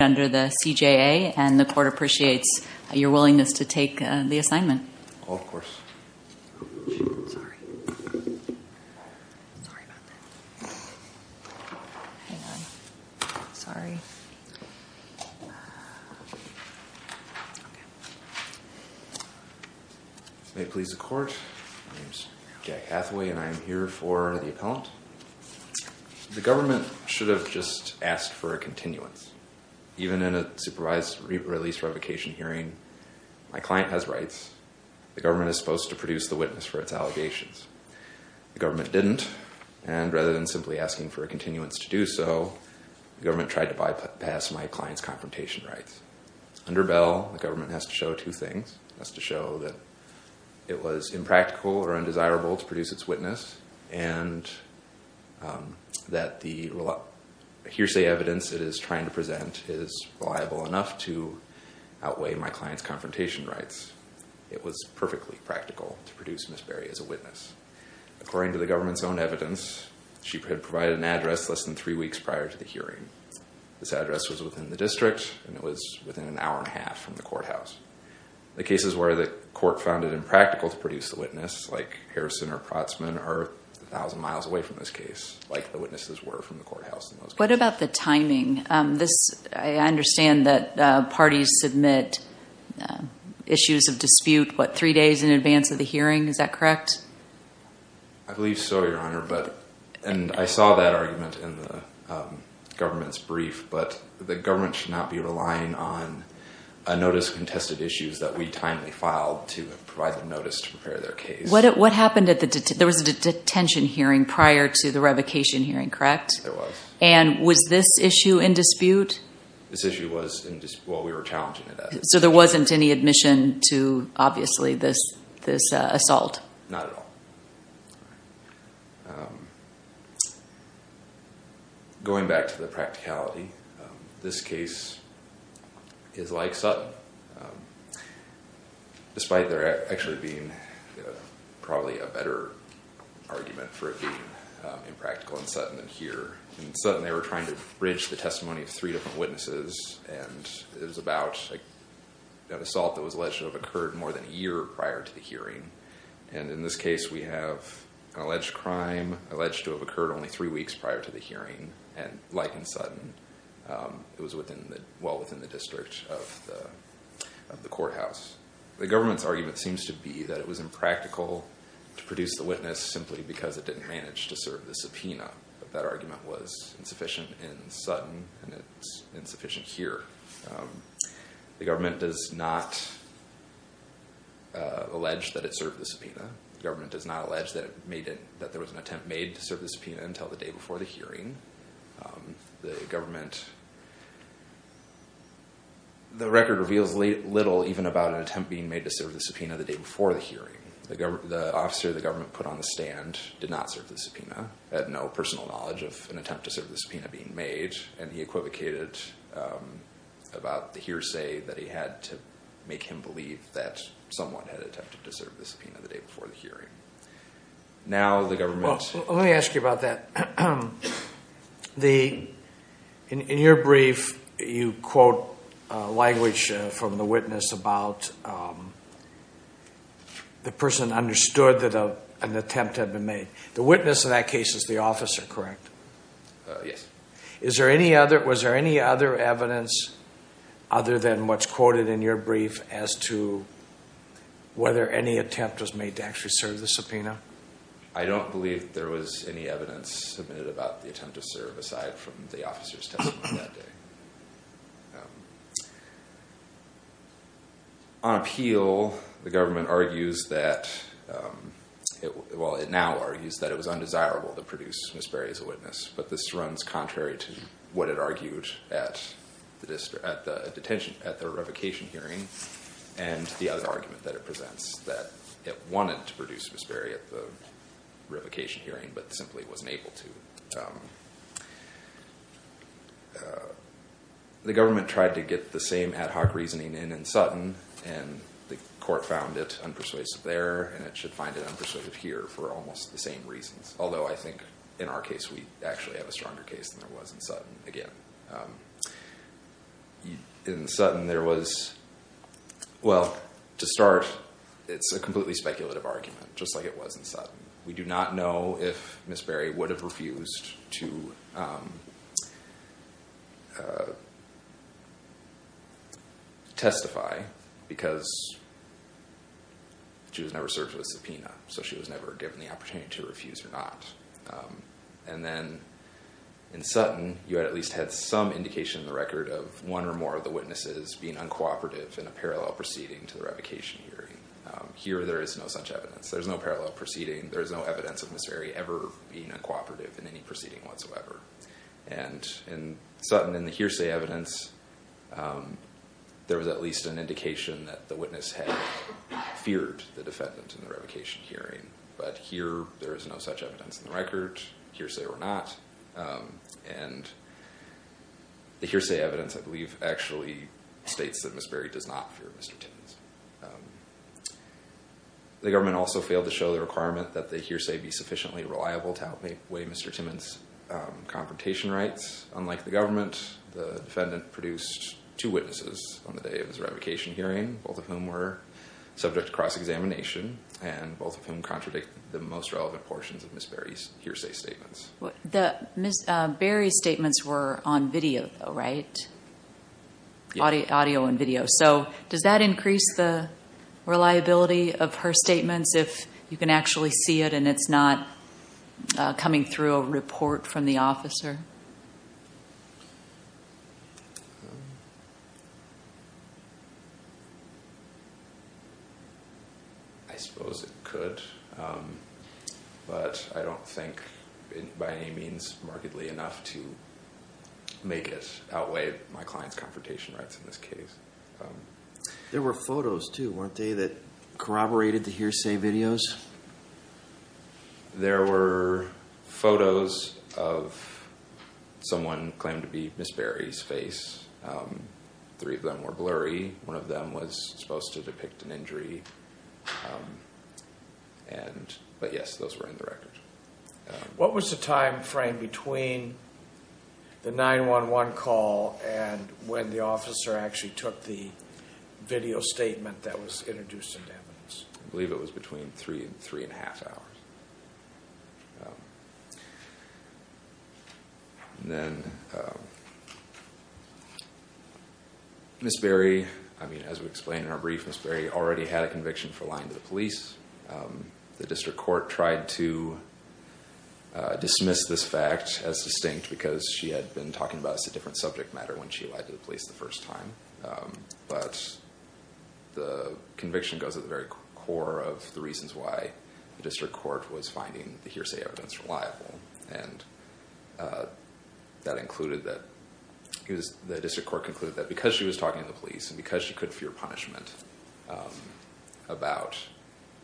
under the CJA, and the court appreciates your willingness to take the assignment. Oh, of course. Sorry. Sorry about that. Hang on. Sorry. May it please the court, my name is Jack Hathaway and I am here for the appellant. The government should have just asked for a continuance. Even in a supervised release revocation hearing, my client has rights. The government is supposed to produce the witness for its allegations. The government didn't, and rather than simply asking for a continuance to do so, the government tried to bypass my client's confrontation rights. Under Bell, the government has to show two things. It has to show that it was impractical or undesirable to produce its witness, and that the hearsay evidence it is trying to present is reliable enough to outweigh my client's confrontation rights. It was perfectly practical to produce Ms. Berry as a witness. According to the government's own evidence, she had provided an address less than three weeks prior to the hearing. This address was within the district, and it was within an hour and a half from the courthouse. The cases where the court found it impractical to produce the witness, like Harrison or Protzman, are a thousand miles away from this case, like the witnesses were from the courthouse. What about the timing? I understand that parties submit issues of dispute, what, three days in advance of the hearing? Is that correct? I believe so, Your Honor, and I saw that argument in the government's brief, but the government should not be relying on a notice of contested issues that we timely filed to provide them notice to prepare their case. There was a detention hearing prior to the revocation hearing, correct? There was. And was this issue in dispute? This issue was in dispute. Well, we were challenging it as is. So there wasn't any admission to, obviously, this assault? Not at all. All right. Going back to the practicality, this case is like Sutton, despite there actually being probably a better argument for it being impractical in Sutton than here. In Sutton, they were trying to bridge the testimony of three different witnesses, and it was about an assault that was alleged to have occurred more than a year prior to the hearing. And in this case, we have an alleged crime alleged to have occurred only three weeks prior to the hearing, and like in Sutton, it was well within the district of the courthouse. The government's argument seems to be that it was impractical to produce the witness simply because it didn't manage to serve the subpoena, but that argument was insufficient in Sutton, and it's insufficient here. The government does not allege that it served the subpoena. The government does not allege that there was an attempt made to serve the subpoena until the day before the hearing. The record reveals little even about an attempt being made to serve the subpoena the day before the hearing. The officer the government put on the stand did not serve the subpoena, had no personal knowledge of an attempt to serve the subpoena being made, and he equivocated about the hearsay that he had to make him believe that someone had attempted to serve the subpoena the day before the hearing. Now the government... Well, let me ask you about that. In your brief, you quote language from the witness about the person understood that an attempt had been made. The witness in that case is the officer, correct? Yes. Was there any other evidence other than what's quoted in your brief as to whether any attempt was made to actually serve the subpoena? I don't believe there was any evidence submitted about the attempt to serve aside from the officer's testimony that day. On appeal, the government argues that... Well, it now argues that it was undesirable to produce Ms. Berry as a witness, but this runs contrary to what it argued at the revocation hearing and the other argument that it presents, that it wanted to produce Ms. Berry at the revocation hearing but simply wasn't able to. The government tried to get the same ad hoc reasoning in in Sutton, and the court found it unpersuasive there, and it should find it unpersuasive here for almost the same reasons, although I think in our case we actually have a stronger case than there was in Sutton, again. In Sutton, there was... Well, to start, it's a completely speculative argument, just like it was in Sutton. We do not know if Ms. Berry would have refused to testify because she was never served with a subpoena, so she was never given the opportunity to refuse or not. And then in Sutton, you at least had some indication in the record of one or more of the witnesses being uncooperative in a parallel proceeding to the revocation hearing. Here, there is no such evidence. There's no parallel proceeding. There's no evidence of Ms. Berry ever being uncooperative in any proceeding whatsoever. And in Sutton, in the hearsay evidence, there was at least an indication that the witness had feared the defendant in the revocation hearing, but here there is no such evidence in the record, hearsay or not. And the hearsay evidence, I believe, actually states that Ms. Berry does not fear Mr. Timmons. The government also failed to show the requirement that the hearsay be sufficiently reliable to outweigh Mr. Timmons' confrontation rights. Unlike the government, the defendant produced two witnesses on the day of his revocation hearing, both of whom were subject to cross-examination, and both of whom contradict the most relevant portions of Ms. Berry's hearsay statements. Ms. Berry's statements were on video, though, right? Audio and video. So does that increase the reliability of her statements if you can actually see it and it's not coming through a report from the officer? I suppose it could, but I don't think by any means markedly enough to make it outweigh my client's confrontation rights in this case. There were photos, too, weren't they, that corroborated the hearsay videos? There were photos of someone claimed to be Ms. Berry's face. Three of them were blurry. One of them was supposed to depict an injury. But yes, those were in the record. What was the time frame between the 911 call and when the officer actually took the video statement that was introduced into evidence? I believe it was between three and three-and-a-half hours. Ms. Berry, as we explained in our brief, Ms. Berry already had a conviction for lying to the police. The district court tried to dismiss this fact as distinct because she had been talking about a different subject matter when she lied to the police the first time. But the conviction goes to the very core of the reasons why the district court was finding the hearsay evidence reliable. The district court concluded that because she was talking to the police and because she could fear punishment about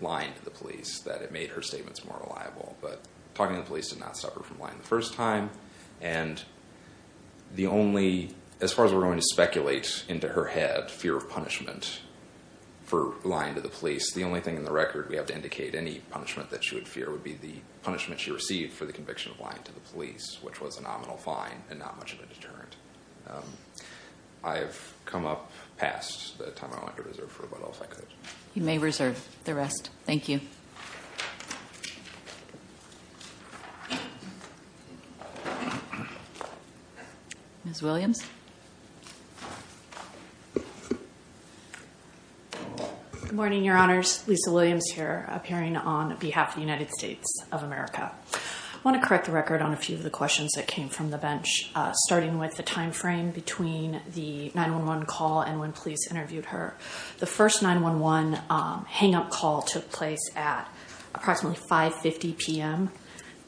lying to the police, that it made her statements more reliable. But talking to the police did not stop her from lying the first time. And the only, as far as we're going to speculate into her head, fear of punishment for lying to the police, the only thing in the record we have to indicate any punishment that she would fear would be the punishment she received for the conviction of lying to the police, which was a nominal fine and not much of a deterrent. I have come up past the time I want to reserve for what else I could. You may reserve the rest. Thank you. Ms. Williams. Good morning, Your Honors. Lisa Williams here, appearing on behalf of the United States of America. I want to correct the record on a few of the questions that came from the bench, starting with the time frame between the 911 call and when police interviewed her. The first 911 hang-up call took place at approximately 5.50 p.m.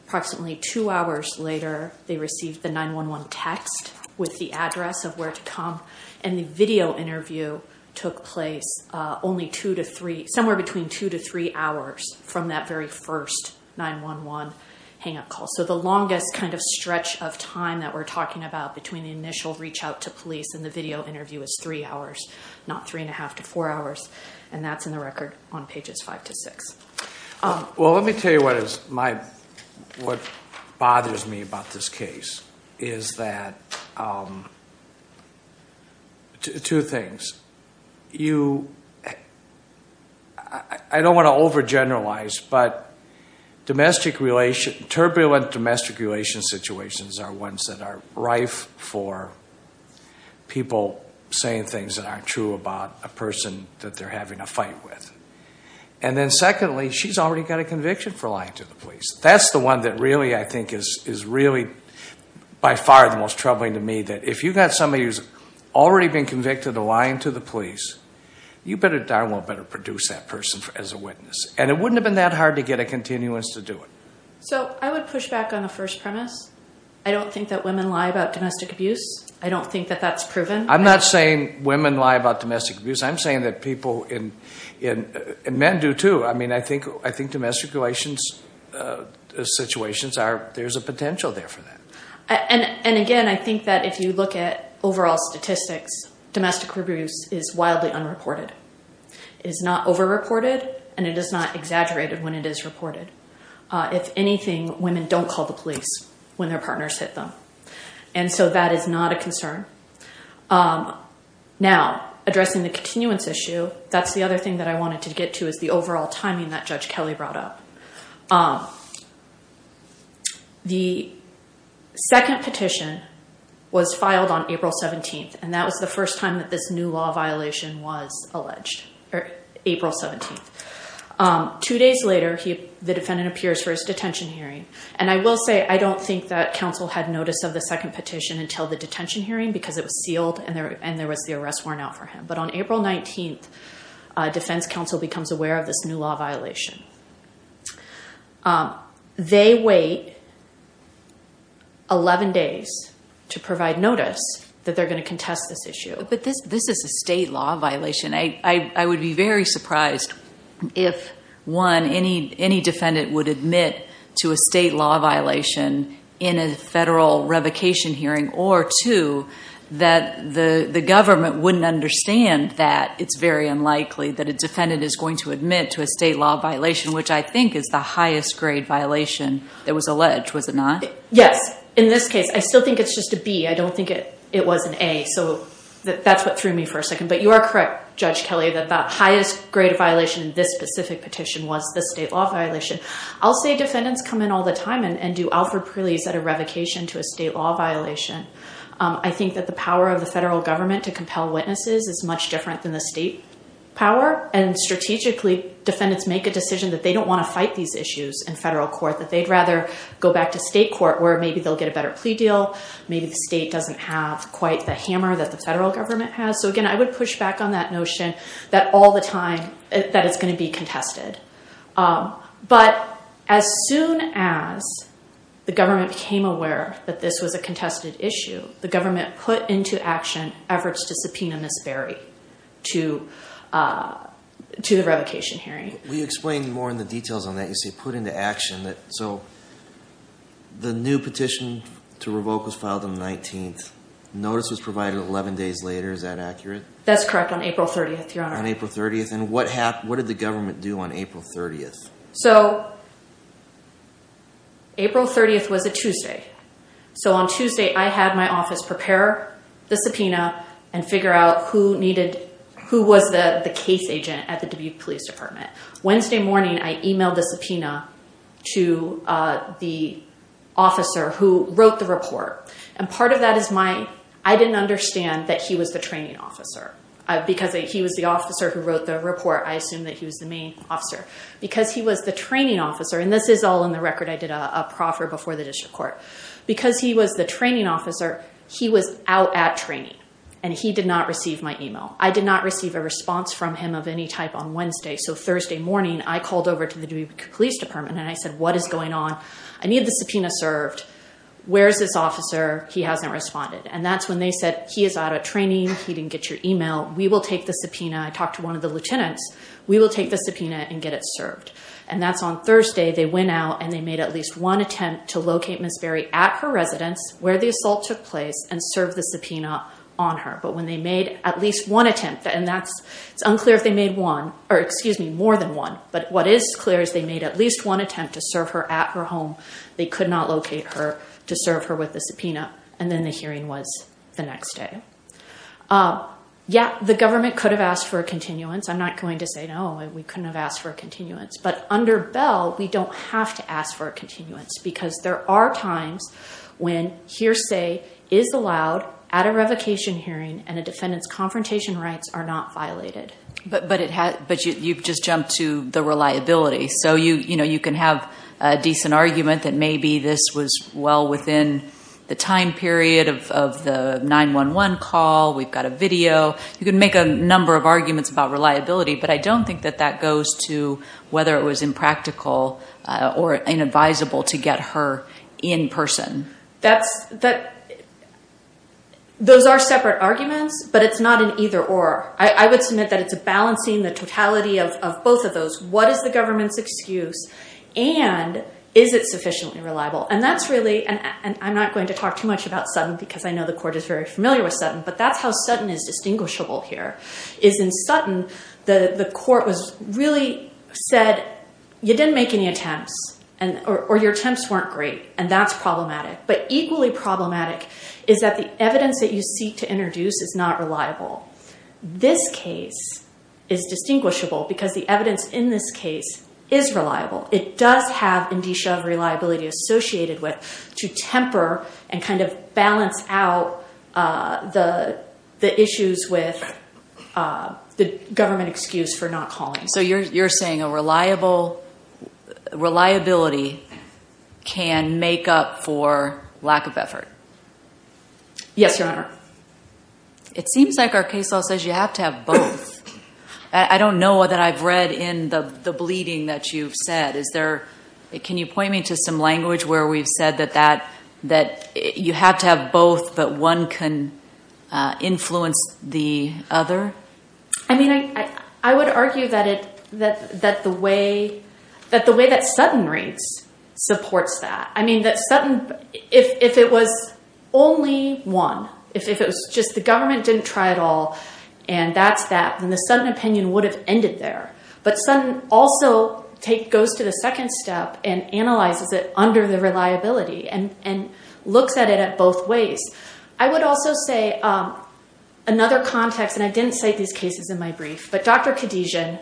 Approximately two hours later, they received the 911 text with the address of where to come, and the video interview took place somewhere between two to three hours from that very first 911 hang-up call. So the longest kind of stretch of time that we're talking about between the initial reach-out to police and the video interview is three hours, not three and a half to four hours, and that's in the record on pages five to six. Well, let me tell you what bothers me about this case is that two things. I don't want to overgeneralize, but turbulent domestic relations situations are ones that are rife for people saying things that aren't true about a person that they're having a fight with. And then secondly, she's already got a conviction for lying to the police. That's the one that really, I think, is really by far the most troubling to me, that if you've got somebody who's already been convicted of lying to the police, you better darn well better produce that person as a witness. And it wouldn't have been that hard to get a continuance to do it. So I would push back on the first premise. I don't think that women lie about domestic abuse. I don't think that that's proven. I'm not saying women lie about domestic abuse. I'm saying that people and men do, too. I mean, I think domestic relations situations, there's a potential there for that. And again, I think that if you look at overall statistics, domestic abuse is wildly unreported. It is not over-reported, and it is not exaggerated when it is reported. If anything, women don't call the police when their partners hit them. And so that is not a concern. Now, addressing the continuance issue, that's the other thing that I wanted to get to is the overall timing that Judge Kelly brought up. The second petition was filed on April 17th, and that was the first time that this new law violation was alleged, April 17th. Two days later, the defendant appears for his detention hearing. And I will say I don't think that counsel had notice of the second petition until the detention hearing because it was sealed and there was the arrest worn out for him. But on April 19th, defense counsel becomes aware of this new law violation. They wait 11 days to provide notice that they're going to contest this issue. But this is a state law violation. I would be very surprised if, one, any defendant would admit to a state law violation in a federal revocation hearing, or, two, that the government wouldn't understand that it's very unlikely that a defendant is going to admit to a state law violation. Which I think is the highest grade violation that was alleged, was it not? Yes. In this case, I still think it's just a B. I don't think it was an A. So that's what threw me for a second. But you are correct, Judge Kelly, that the highest grade violation in this specific petition was the state law violation. I'll say defendants come in all the time and do Alfred Preeley's at a revocation to a state law violation. I think that the power of the federal government to compel witnesses is much different than the state power. And strategically, defendants make a decision that they don't want to fight these issues in federal court, that they'd rather go back to state court where maybe they'll get a better plea deal, maybe the state doesn't have quite the hammer that the federal government has. So, again, I would push back on that notion that all the time that it's going to be contested. But as soon as the government became aware that this was a contested issue, the government put into action efforts to subpoena Ms. Berry to the revocation hearing. Will you explain more in the details on that? You say put into action. So the new petition to revoke was filed on the 19th. Notice was provided 11 days later. Is that accurate? That's correct, on April 30th, Your Honor. On April 30th. And what did the government do on April 30th? So April 30th was a Tuesday. So on Tuesday, I had my office prepare the subpoena and figure out who needed, who was the case agent at the Dubuque Police Department. Wednesday morning, I emailed the subpoena to the officer who wrote the report. And part of that is my, I didn't understand that he was the training officer. Because he was the officer who wrote the report, I assumed that he was the main officer. Because he was the training officer, and this is all in the record. I did a proffer before the district court. Because he was the training officer, he was out at training. And he did not receive my email. I did not receive a response from him of any type on Wednesday. So Thursday morning, I called over to the Dubuque Police Department and I said, what is going on? I need the subpoena served. Where is this officer? He hasn't responded. And that's when they said, he is out at training. He didn't get your email. We will take the subpoena. I talked to one of the lieutenants. We will take the subpoena and get it served. And that's on Thursday. They went out and they made at least one attempt to locate Ms. Berry at her residence, where the assault took place, and serve the subpoena on her. But when they made at least one attempt, and that's unclear if they made one, or excuse me, more than one. But what is clear is they made at least one attempt to serve her at her home. They could not locate her to serve her with the subpoena. And then the hearing was the next day. Yeah, the government could have asked for a continuance. I'm not going to say, no, we couldn't have asked for a continuance. But under Bell, we don't have to ask for a continuance. Because there are times when hearsay is allowed at a revocation hearing, and a defendant's confrontation rights are not violated. But you've just jumped to the reliability. So you can have a decent argument that maybe this was well within the time period of the 911 call. We've got a video. You can make a number of arguments about reliability. But I don't think that that goes to whether it was impractical or inadvisable to get her in person. Those are separate arguments. But it's not an either or. I would submit that it's a balancing the totality of both of those. What is the government's excuse? And is it sufficiently reliable? And that's really – and I'm not going to talk too much about Sutton, because I know the court is very familiar with Sutton. But that's how Sutton is distinguishable here. Is in Sutton, the court really said, you didn't make any attempts. Or your attempts weren't great. And that's problematic. But equally problematic is that the evidence that you seek to introduce is not reliable. This case is distinguishable because the evidence in this case is reliable. It does have indicia of reliability associated with to temper and kind of balance out the issues with the government excuse for not calling. So you're saying a reliability can make up for lack of effort? Yes, Your Honor. It seems like our case law says you have to have both. I don't know that I've read in the bleeding that you've said. Can you point me to some language where we've said that you have to have both, but one can influence the other? I mean, I would argue that the way that Sutton reads supports that. I mean, that Sutton, if it was only one, if it was just the government didn't try at all and that's that, then the Sutton opinion would have ended there. But Sutton also goes to the second step and analyzes it under the reliability and looks at it at both ways. I would also say another context, and I didn't cite these cases in my brief, but Dr. Khadijian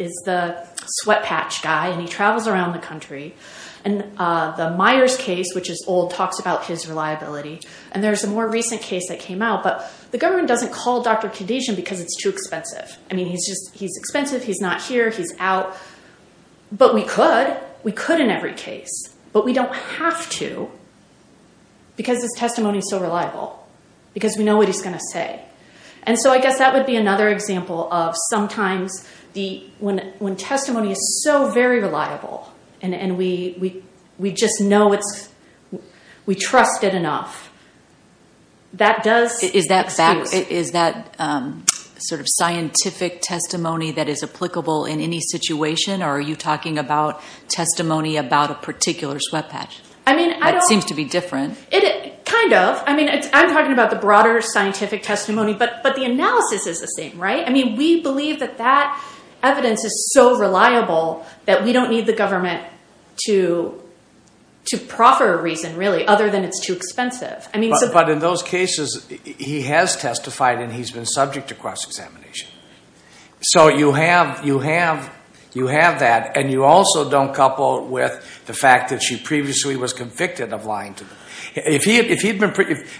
is the sweat patch guy, and he travels around the country. And the Myers case, which is old, talks about his reliability. And there's a more recent case that came out, but the government doesn't call Dr. Khadijian because it's too expensive. I mean, he's expensive, he's not here, he's out. But we could. We could in every case, but we don't have to because his testimony is so reliable, because we know what he's going to say. And so I guess that would be another example of sometimes when testimony is so very reliable and we just know we trust it enough, that does excuse. Is that sort of scientific testimony that is applicable in any situation, or are you talking about testimony about a particular sweat patch? That seems to be different. Kind of. I mean, I'm talking about the broader scientific testimony, but the analysis is the same, right? I mean, we believe that that evidence is so reliable that we don't need the government to proffer a reason, really, other than it's too expensive. But in those cases, he has testified and he's been subject to cross-examination. So you have that, and you also don't couple it with the fact that she previously was convicted of lying to them. If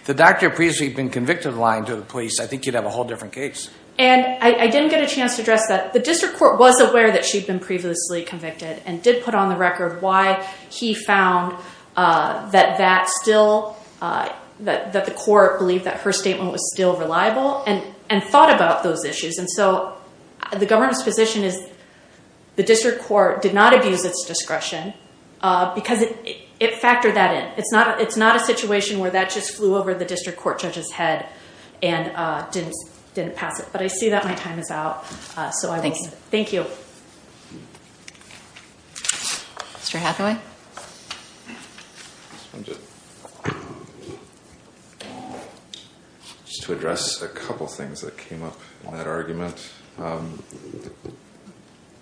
the doctor had previously been convicted of lying to the police, I think you'd have a whole different case. And I didn't get a chance to address that. The district court was aware that she'd been previously convicted and did put on the record why he found that the court believed that her statement was still reliable and thought about those issues. And so the government's position is the district court did not abuse its discretion because it factored that in. It's not a situation where that just flew over the district court judge's head and didn't pass it. But I see that my time is out. Thank you. Thank you. Mr. Hathaway? Just to address a couple things that came up in that argument.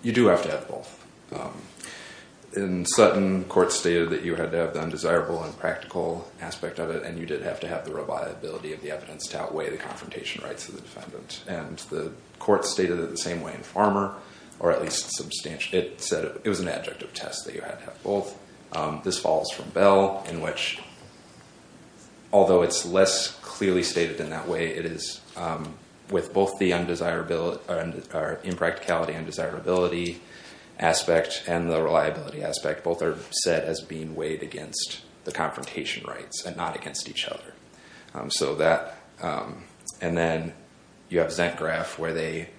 You do have to have both. In Sutton, court stated that you had to have the undesirable and practical aspect of it, and you did have to have the reliability of the evidence to outweigh the confrontation rights of the defendant. And the court stated it the same way in Farmer, or at least substantially. It said it was an adjective test that you had to have both. This falls from Bell in which, although it's less clearly stated in that way, with both the impracticality and desirability aspect and the reliability aspect, both are set as being weighed against the confrontation rights and not against each other. And then you have ZentGraph where they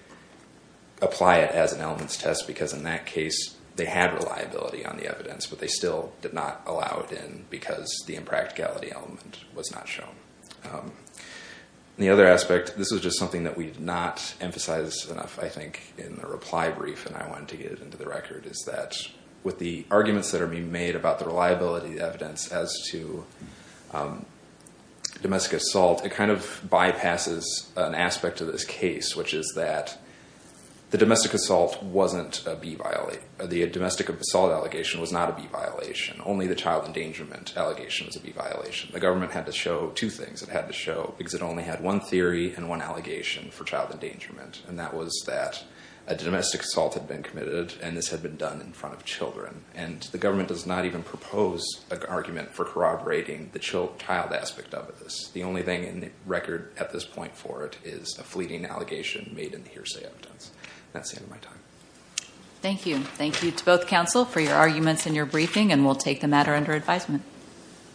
apply it as an elements test because in that case they had reliability on the evidence, but they still did not allow it in because the impracticality element was not shown. The other aspect, this is just something that we did not emphasize enough, I think, in the reply brief, and I wanted to get it into the record, is that with the arguments that are being made about the reliability of the evidence as to domestic assault, it kind of bypasses an aspect of this case, which is that the domestic assault wasn't a B violation. The domestic assault allegation was not a B violation. Only the child endangerment allegation was a B violation. The government had to show two things. It had to show because it only had one theory and one allegation for child endangerment, and that was that a domestic assault had been committed and this had been done in front of children. And the government does not even propose an argument for corroborating the child aspect of this. The only thing in the record at this point for it is a fleeting allegation made in the hearsay evidence. That's the end of my time. Thank you. Thank you to both counsel for your arguments and your briefing, and we'll take the matter under advisement.